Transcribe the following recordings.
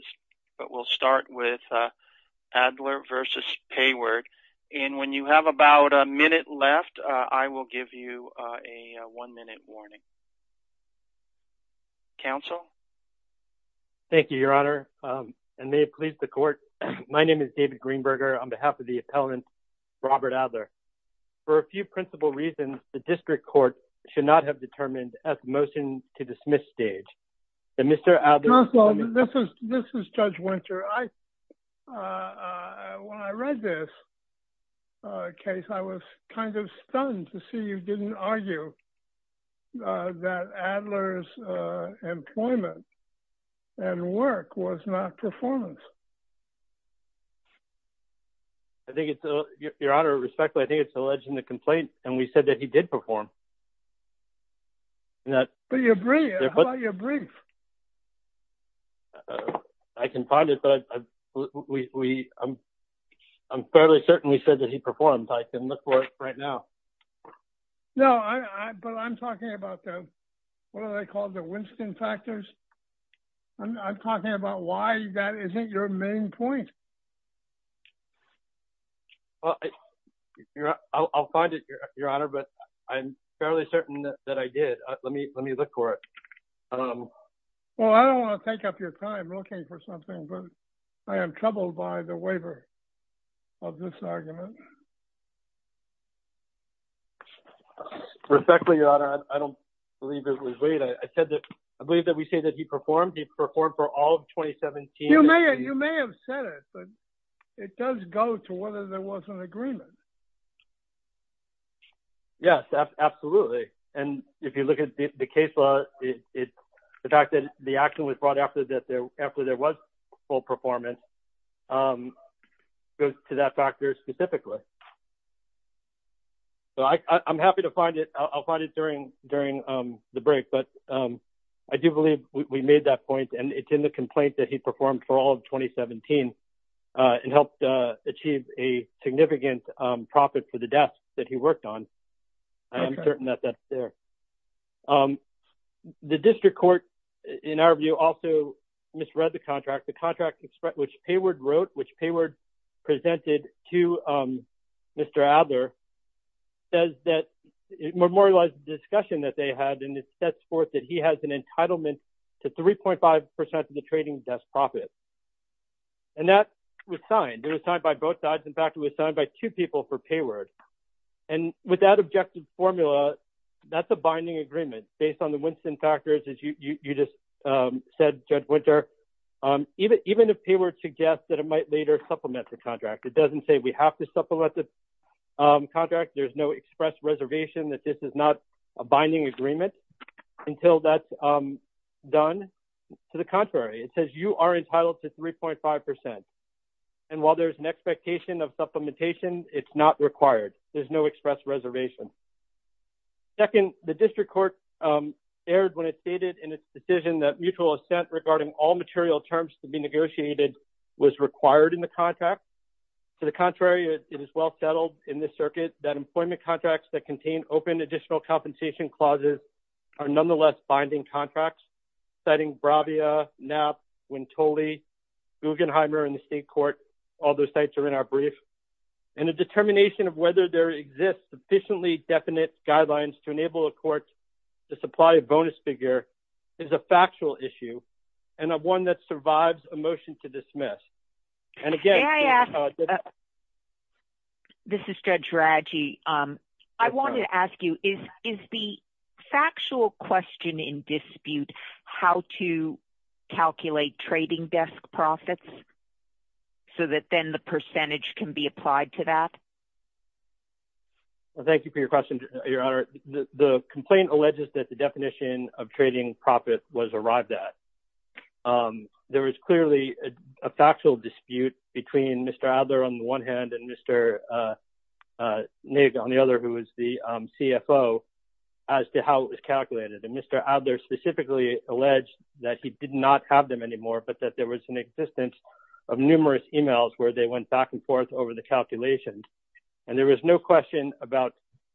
Mr. Adler, on behalf of the appellant Robert Adler, for a few principal reasons, the district I, when I read this case, I was kind of stunned to see you didn't argue that Adler's employment and work was not performance. I think it's, Your Honor, respectfully, I think it's alleged in the complaint, and we said that he did perform. But your brief, how about your brief? I can find it, but I'm fairly certain he said that he performed. I can look for it right now. No, but I'm talking about the, what are they called, the Winston factors? I'm talking about why that isn't your main point. Well, I'll find it, Your Honor, but I'm fairly certain that I did. Let me look for it. Well, I don't want to take up your time looking for something, but I am troubled by the waiver of this argument. Respectfully, Your Honor, I don't believe it was waived. I said that, I believe that we say that he performed. He performed for all of 2017. You may have said it, but it does go to whether there was an agreement. Yes, absolutely. And if you look at the case law, the fact that the action was brought after there was full performance goes to that factor specifically. So I'm happy to find it. I'll find it during the break. But I do believe we made that point, and it's in the complaint that he performed for all of 2017 and helped achieve a significant profit for the desk that he worked on. I'm certain that that's there. The district court, in our view, also misread the contract. The contract which Payward wrote, which Payward presented to Mr. Adler says that it memorialized the discussion that they had, and it sets forth that he has an entitlement to 3.5% of the trading desk profit. And that was signed. It was signed by both sides. In fact, it was signed by two people for Payward. And with that objective formula, that's a binding agreement based on the Winston factors, as you just said, Judge Winter. Even if Payward suggests that it might later supplement the contract, it doesn't say we have to supplement the contract. There's no express reservation that this is not binding agreement until that's done. To the contrary, it says you are entitled to 3.5%. And while there's an expectation of supplementation, it's not required. There's no express reservation. Second, the district court aired when it stated in its decision that mutual assent regarding all material terms to be negotiated was required in the contract. To the contrary, it is well settled in this circuit that employment contracts that contain open additional compensation clauses are nonetheless binding contracts, setting Bravia, NAP, Wintoli, Guggenheimer, and the state court. All those sites are in our brief. And a determination of whether there exists sufficiently definite guidelines to enable a court to supply a bonus figure is a factual issue and one that survives a motion to dismiss. And again, this is Judge Raggi. I wanted to ask you, is the factual question in dispute how to calculate trading desk profits so that then the percentage can be applied to that? Thank you for your question, Your Honor. The complaint alleges that the definition of trading profit was arrived at. There was clearly a factual dispute between Mr. Adler, on the one hand, and Mr. Naig, on the other, who was the CFO, as to how it was calculated. And Mr. Adler specifically alleged that he did not have them anymore, but that there was an existence of numerous emails where they went back and forth over the calculations. And there was no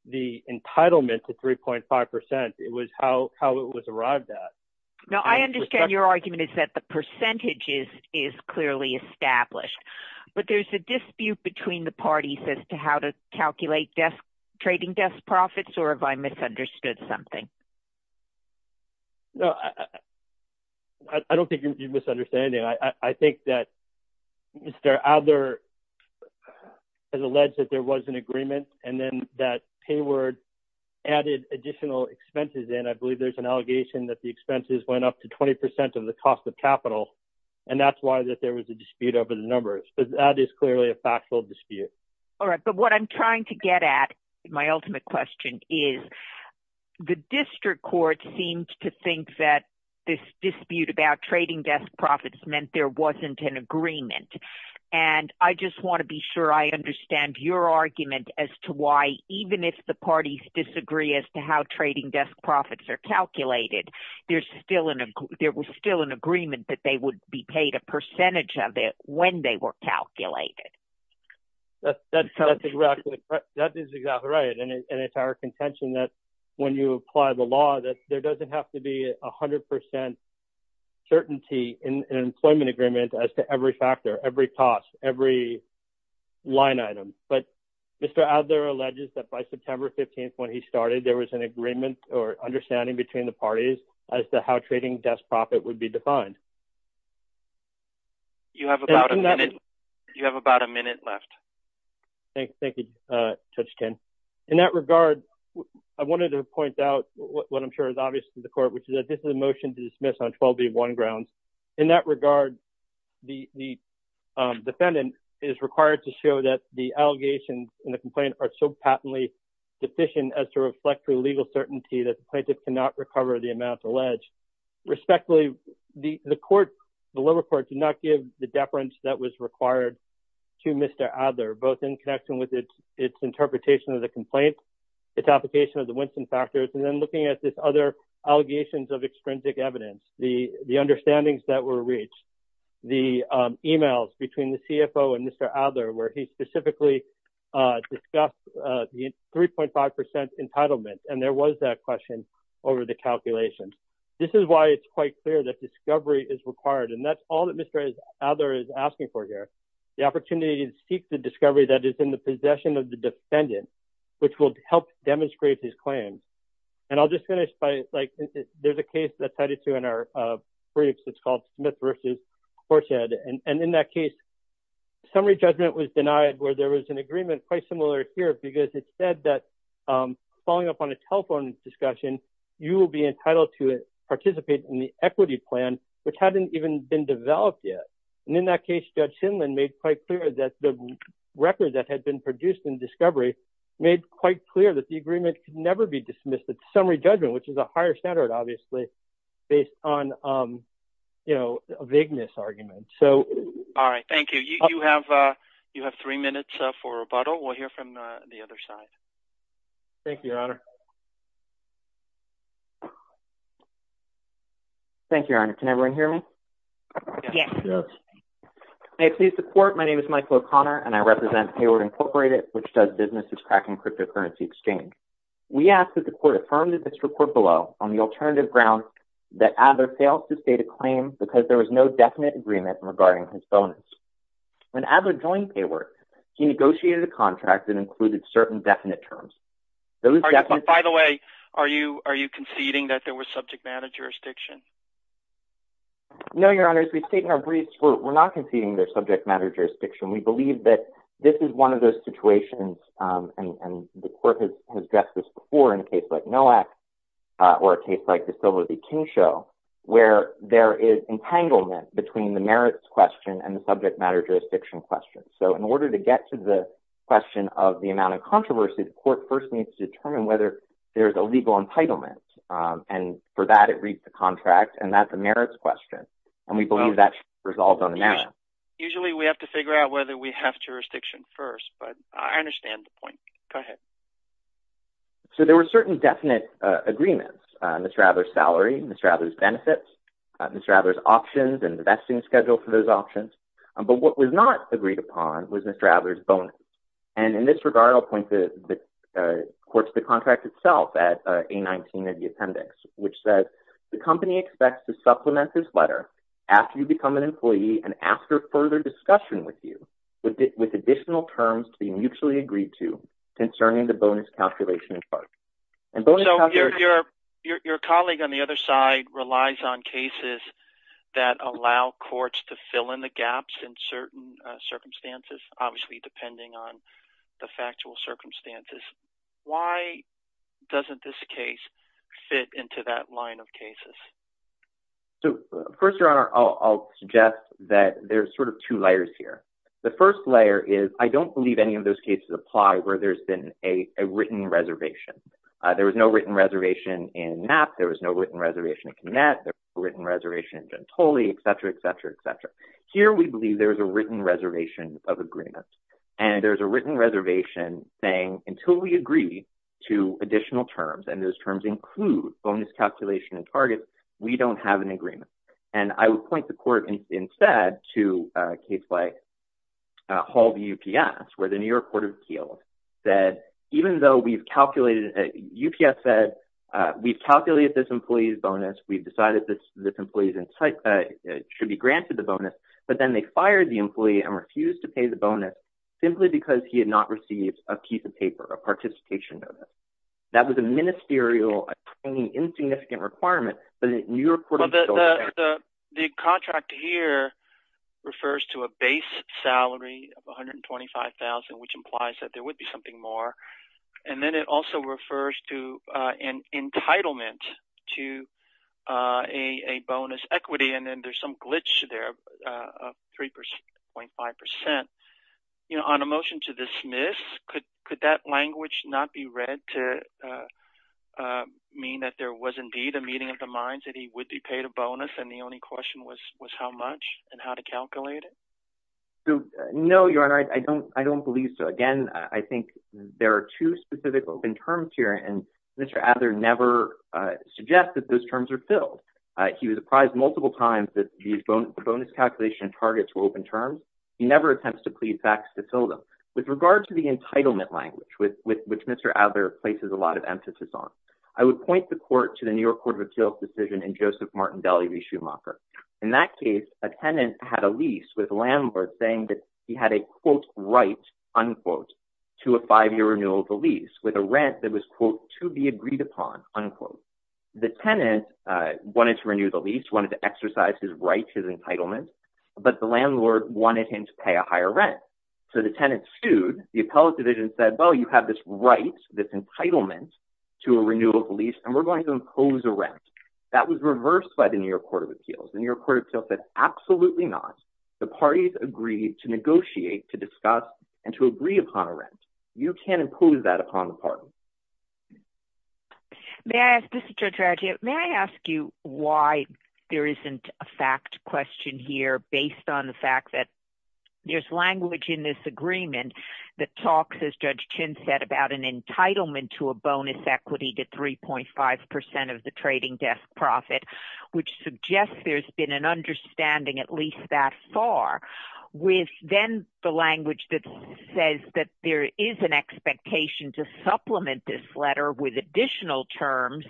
the entitlement to 3.5%. It was how it was arrived at. I understand your argument is that the percentage is clearly established, but there's a dispute between the parties as to how to calculate trading desk profits, or have I misunderstood something? No, I don't think you're misunderstanding. I think that Mr. Adler has alleged that there was an agreement, and then that PayWord added additional expenses in. I believe there's an allegation that the expenses went up to 20% of the cost of capital, and that's why that there was a dispute over the numbers. But that is clearly a factual dispute. All right. But what I'm trying to get at, my ultimate question, is the district court seems to think that this dispute about trading desk profits meant there wasn't an agreement. And I just want to be sure I understand your argument as to why, even if the parties disagree as to how trading desk profits are calculated, there was still an agreement that they would be paid a percentage of it when they were calculated. That is exactly right. And it's our contention that when you apply the law, that there doesn't have to be 100% certainty in an employment agreement as to every factor, every cost, every line item. But Mr. Adler alleges that by September 15th, when he started, there was an agreement or understanding between the parties as to how trading desk profit would be defined. You have about a minute left. Thank you, Judge Kinn. In that regard, I wanted to point out what I'm sure is obvious to the court, which is that this is a motion to 12B1 grounds. In that regard, the defendant is required to show that the allegations in the complaint are so patently deficient as to reflect through legal certainty that the plaintiff cannot recover the amount alleged. Respectfully, the court, the lower court did not give the deference that was required to Mr. Adler, both in connection with its interpretation of the complaint, its application of the Winston factors, and then looking at this other allegations of extrinsic evidence, the understandings that were reached, the emails between the CFO and Mr. Adler, where he specifically discussed the 3.5% entitlement. And there was that question over the calculation. This is why it's quite clear that discovery is required. And that's all that Mr. Adler is asking for here. The opportunity to seek the discovery that is in the possession of the defendant, which will help demonstrate his claim. And I'll just finish by like, there's a case that tied it to in our briefs, it's called Smith versus Courtshead. And in that case, summary judgment was denied where there was an agreement quite similar here, because it said that following up on a telephone discussion, you will be entitled to participate in the equity plan, which hadn't even been developed yet. And in that case, Judge Sinland made quite clear that the record that had been produced in discovery, made quite clear that the agreement could never be dismissed at summary judgment, which is a higher standard, obviously, based on, you know, a vagueness argument. So, all right, thank you. You have three minutes for rebuttal. We'll hear from the other side. Thank you, Your Honor. Thank you, Your Honor. Can everyone hear me? Yes. May it please the court, my name is Michael O'Connor, and I represent Hayward Incorporated, which does businesses tracking cryptocurrency exchange. We asked that the court affirmed in this report below on the alternative grounds that Adler failed to state a claim because there was no definite agreement regarding his bonus. When Adler joined PayWork, he negotiated a contract that included certain definite terms. By the way, are you conceding that there was subject matter jurisdiction? No, Your Honor, as we state in our briefs, we're not conceding there's subject situations, and the court has addressed this before in a case like NOAC, or a case like the Silver v. Kingshaw, where there is entanglement between the merits question and the subject matter jurisdiction question. So, in order to get to the question of the amount of controversy, the court first needs to determine whether there's a legal entitlement. And for that, it reads the contract, and that's a merits question. And we believe that should be resolved on the matter. Usually, we have to figure out whether we have jurisdiction first, but I understand the point. Go ahead. So, there were certain definite agreements, Mr. Adler's salary, Mr. Adler's benefits, Mr. Adler's options, and the vesting schedule for those options. But what was not agreed upon was Mr. Adler's bonus. And in this regard, I'll point to the court's contract itself at A-19 of the appendix, which says, the company expects to supplement this letter after you become an employee and ask for further discussion with you additional terms to be mutually agreed to concerning the bonus calculation part. So, your colleague on the other side relies on cases that allow courts to fill in the gaps in certain circumstances, obviously, depending on the factual circumstances. Why doesn't this case fit into that line of cases? So, first, Your Honor, I'll suggest that there's sort of two layers here. The first layer is, I don't believe any of those cases apply where there's been a written reservation. There was no written reservation in Knapp. There was no written reservation in Knett. There was no written reservation in Gentoli, et cetera, et cetera, et cetera. Here, we believe there was a written reservation of agreement. And there's a written reservation saying, until we agree to additional terms, and those terms include bonus calculation and targets, we don't have an agreement. And I would point the court instead to a case like Hall v. UPS, where the New York Court of Appeals said, even though we've calculated, UPS said, we've calculated this employee's bonus, we've decided this employee should be granted the bonus, but then they fired the employee and refused to pay the bonus simply because he had not received a piece of paper, a participation notice. That was a ministerial, a training insignificant requirement, but the New York Court of Appeals- Well, the contract here refers to a base salary of $125,000, which implies that there would be something more. And then it also refers to an entitlement to a bonus equity, and then there's some glitch there of 3.5%. On a motion to dismiss, could that language not be read to mean that there was indeed a meeting of the minds that he would be paid a bonus, and the only question was how much and how to calculate it? So, no, Your Honor, I don't believe so. Again, I think there are two specific open terms here, and Mr. Adler never suggests that those terms are filled. He was apprised multiple times that these bonus calculation targets were open terms. He never attempts to plead facts to fill them. With regard to the entitlement language, which Mr. Adler places a lot of emphasis on, I would point the court to the New York Court of Appeals decision in Joseph Martindale v. Schumacher. In that case, a tenant had a lease with a landlord saying that he had a, quote, right, unquote, to a five-year renewal of the lease with a rent that was, quote, to be agreed upon, unquote. The tenant wanted to renew the lease, wanted to exercise his right to entitlement, but the landlord wanted him to pay a higher rent. So the tenant sued, the appellate division said, well, you have this right, this entitlement to a renewal of the lease, and we're going to impose a rent. That was reversed by the New York Court of Appeals. The New York Court of Appeals said, absolutely not. The parties agreed to negotiate, to discuss, and to agree upon a rent. You can't impose that upon the party. Judge Ruggiero, may I ask you why there isn't a fact question here based on the fact that there's language in this agreement that talks, as Judge Chin said, about an entitlement to a bonus equity to 3.5% of the trading desk profit, which suggests there's been an understanding at least that far, with then the language that says that there is an expectation to supplement this letter with additional terms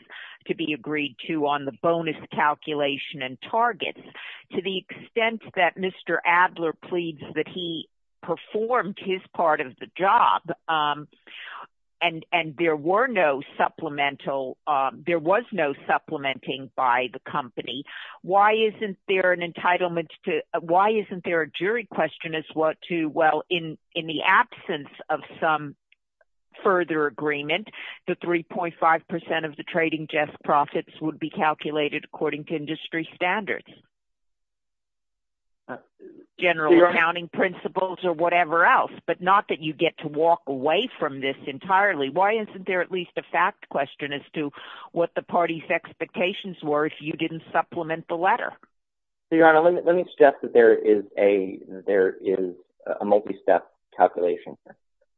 to be agreed to on the bonus calculation and targets. To the extent that Mr. Adler pleads that he performed his part of the job, and there was no supplementing by the company, why isn't there an entitlement to, why isn't there a jury question as what to, well, in the absence of some further agreement, the 3.5% of the trading desk profits would be calculated according to industry standards, general accounting principles, or whatever else, but not that you get to walk away from this entirely. Why isn't there at least a fact question as to what the party's expectations were if you didn't supplement the letter? Your Honor, let me suggest that there is a multi-step calculation.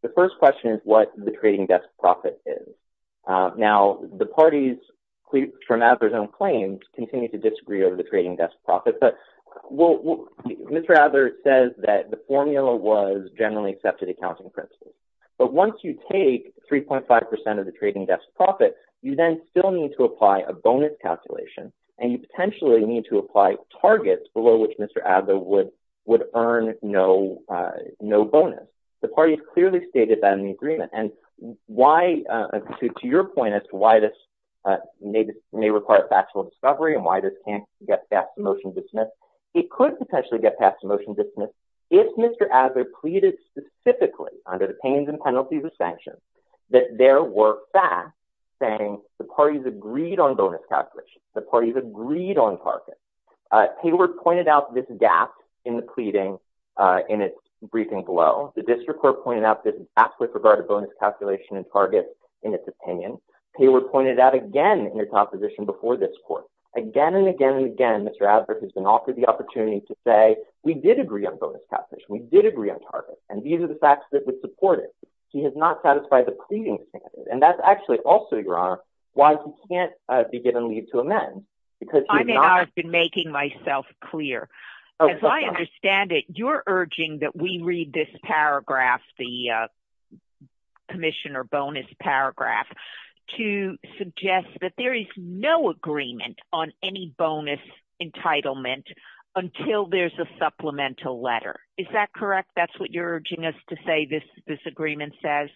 The first question is what the trading desk profit is. Now, the parties, from Adler's own claims, continue to disagree over the profit, but Mr. Adler says that the formula was generally accepted accounting principles, but once you take 3.5% of the trading desk profit, you then still need to apply a bonus calculation, and you potentially need to apply targets below which Mr. Adler would earn no bonus. The parties clearly stated that in the agreement, and to your point as to why this may require factual discovery and why this can't get past the motion dismiss, it could potentially get past the motion dismiss if Mr. Adler pleaded specifically under the pains and penalties of sanctions that there were facts saying the parties agreed on bonus calculations, the parties agreed on targets. Payward pointed out this gap in the pleading in its briefing below. The district court pointed out this gap with regard to bonus calculation and targets in its opinion. Payward pointed out again in his opposition before this court, again and again and again, Mr. Adler has been offered the opportunity to say we did agree on bonus calculation, we did agree on targets, and these are the facts that would support it. He has not satisfied the pleading standard, and that's actually also, Your Honor, why he can't be given leave to amend. I've been making myself clear. As I understand it, you're urging that we read this paragraph, the commission or bonus paragraph, to suggest that there is no agreement on any bonus entitlement until there's a supplemental letter. Is that correct? That's what you're urging us to say this agreement says?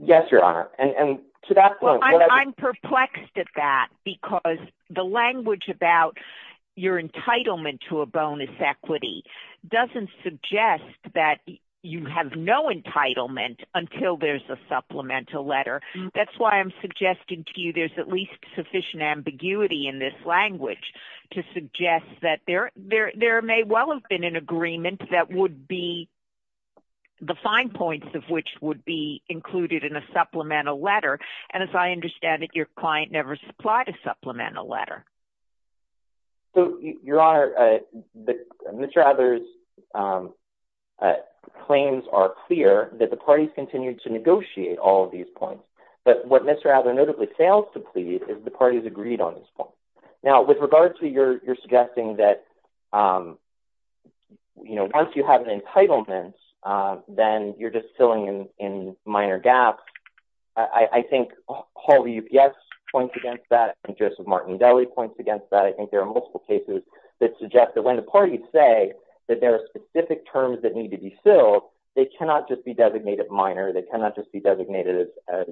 Yes, Your Honor, and to that point, I'm perplexed at that because the language about your entitlement to a bonus equity doesn't suggest that you have no entitlement until there's a supplemental letter. That's why I'm suggesting to you there's at least sufficient ambiguity in this language to suggest that there may well have been an agreement that would be the fine points of which would be included in a supplemental letter, and as I understand it, your client never supplied a supplemental letter. So, Your Honor, Mr. Adler's claims are clear that the parties continue to negotiate all these points, but what Mr. Adler notably fails to plead is the parties agreed on this point. Now, with regard to your suggesting that, you know, once you have an entitlement, then you're just filling in minor gaps, I think all the UPS points against that and Joseph Martindale points against that. I think there are multiple cases that suggest that when the parties say that there are specific terms that need to be filled, they cannot just be designated minor. They cannot just be designated as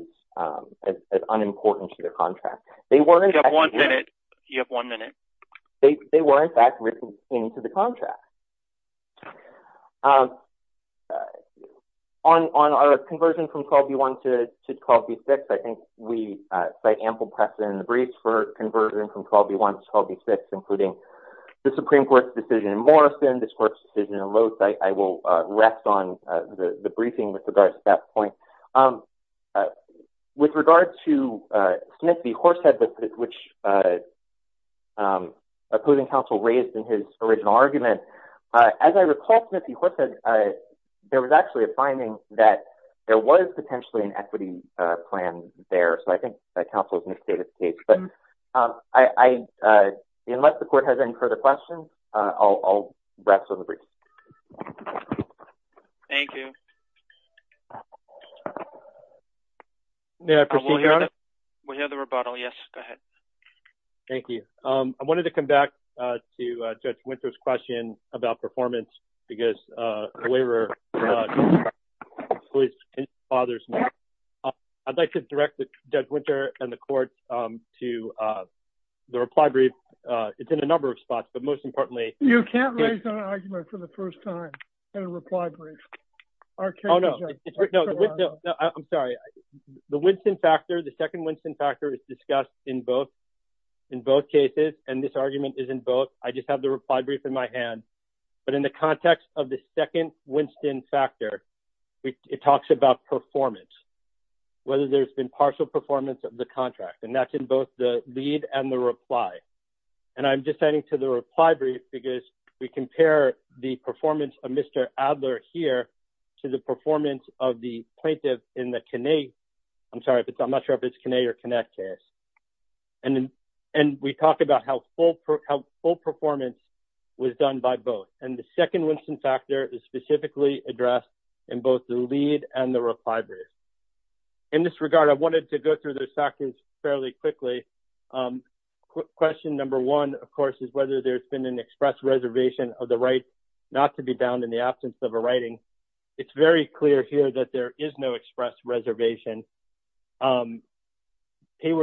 unimportant to their contract. You have one minute. They were in fact written into the contract. Okay. On our conversion from 12B1 to 12B6, I think we cite ample precedent in the briefs for conversion from 12B1 to 12B6, including the Supreme Court's decision in Morrison, this Court's decision in Loath. I will rest on the briefing with regards to that point. With regard to Smith v. Horsehead, which opposing counsel raised in his original argument, as I recall, Smith v. Horsehead, there was actually a finding that there was potentially an equity plan there. So I think that counsel has misstated the case. But unless the Court has any further questions, I'll rest on the briefing. Thank you. May I proceed, Your Honor? Thank you. I wanted to come back to Judge Winter's question about performance, because the waiver was in his father's name. I'd like to direct Judge Winter and the Court to the reply brief. It's in a number of spots, but most importantly— You can't raise an argument for the first time in a reply brief. Oh, no. I'm sorry. The Winston factor, the second Winston factor is discussed in both cases, and this argument is in both. I just have the reply brief in my hand. But in the context of the second Winston factor, it talks about performance, whether there's been partial performance of the contract. And that's in both the lead and the reply. And I'm just adding to the reply brief because we compare the performance of Mr. Adler here to the performance of the plaintiff in the Kinney—I'm sorry, I'm not sure if it's Kinney or Kinnett case. And we talk about how full performance was done by both. And the second Winston factor is specifically addressed in both the lead and the reply brief. In this regard, I wanted to go through the factors fairly quickly. Question number one, of course, is whether there's been an express reservation of the right not to be bound in the absence of a writing. It's very clear here that there is no express reservation. Payward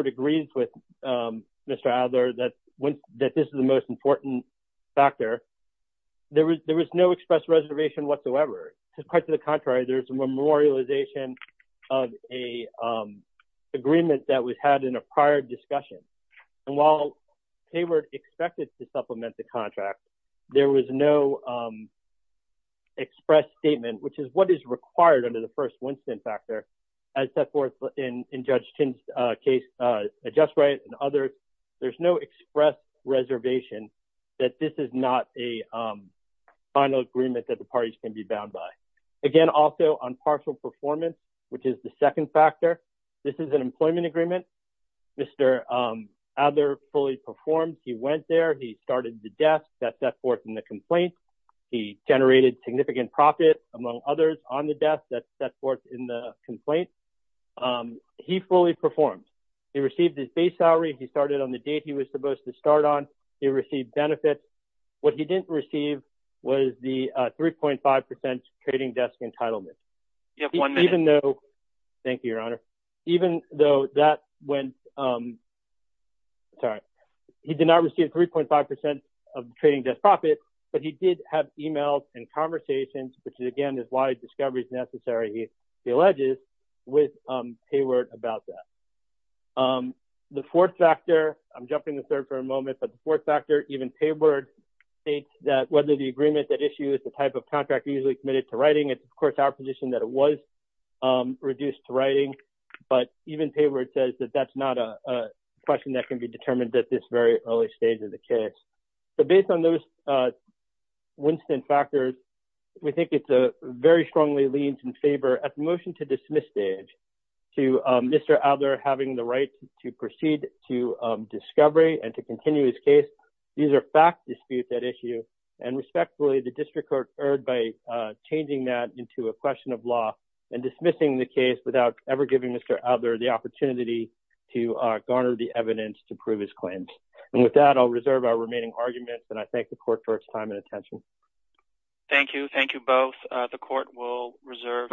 agrees with Mr. Adler that this is the most important factor. There was no express reservation whatsoever. Quite to the contrary, there's a memorialization of a agreement that was had in a prior discussion. And while Payward expected to supplement the contract, there was no express statement, which is what is required under the first Winston factor, as set forth in Judge Chin's case, a just right and others. There's no express reservation that this is not a final agreement that the parties can be bound by. Again, also on partial performance, which is the second factor, this is an employment agreement. Mr. Adler fully performed. He went there. He started the desk that set forth in the complaint. He generated significant profit, among others, on the desk that set forth in the complaint. He fully performed. He received his base salary. He started on the date he was supposed to start on. He received benefits. What he didn't receive was the 3.5% trading desk entitlement. Thank you, Your Honor. Even though that went, sorry, he did not receive 3.5% of trading desk profit, but he did have emails and conversations, which again is why discovery is necessary, he alleges, with Payward about that. The fourth factor, I'm jumping to third for a moment, but the fourth factor, even Payward states that whether the agreement that issues the type of contract usually committed to writing, it's of course our position that it was reduced to writing, but even Payward says that that's not a question that can be determined at this very early stage of the case. Based on those Winston factors, we think it's a very strongly leaned in favor at the motion to dismiss stage to Mr. Adler having the right to proceed to discovery and to continue his case. These are fact disputes at issue, and respectfully, the district court erred by changing that into a question of law and dismissing the case without ever giving Mr. Adler the opportunity to garner the evidence to prove his claims. And with that, I'll reserve our remaining arguments, and I thank the court for its time and attention. Thank you. Thank you both. The court will reserve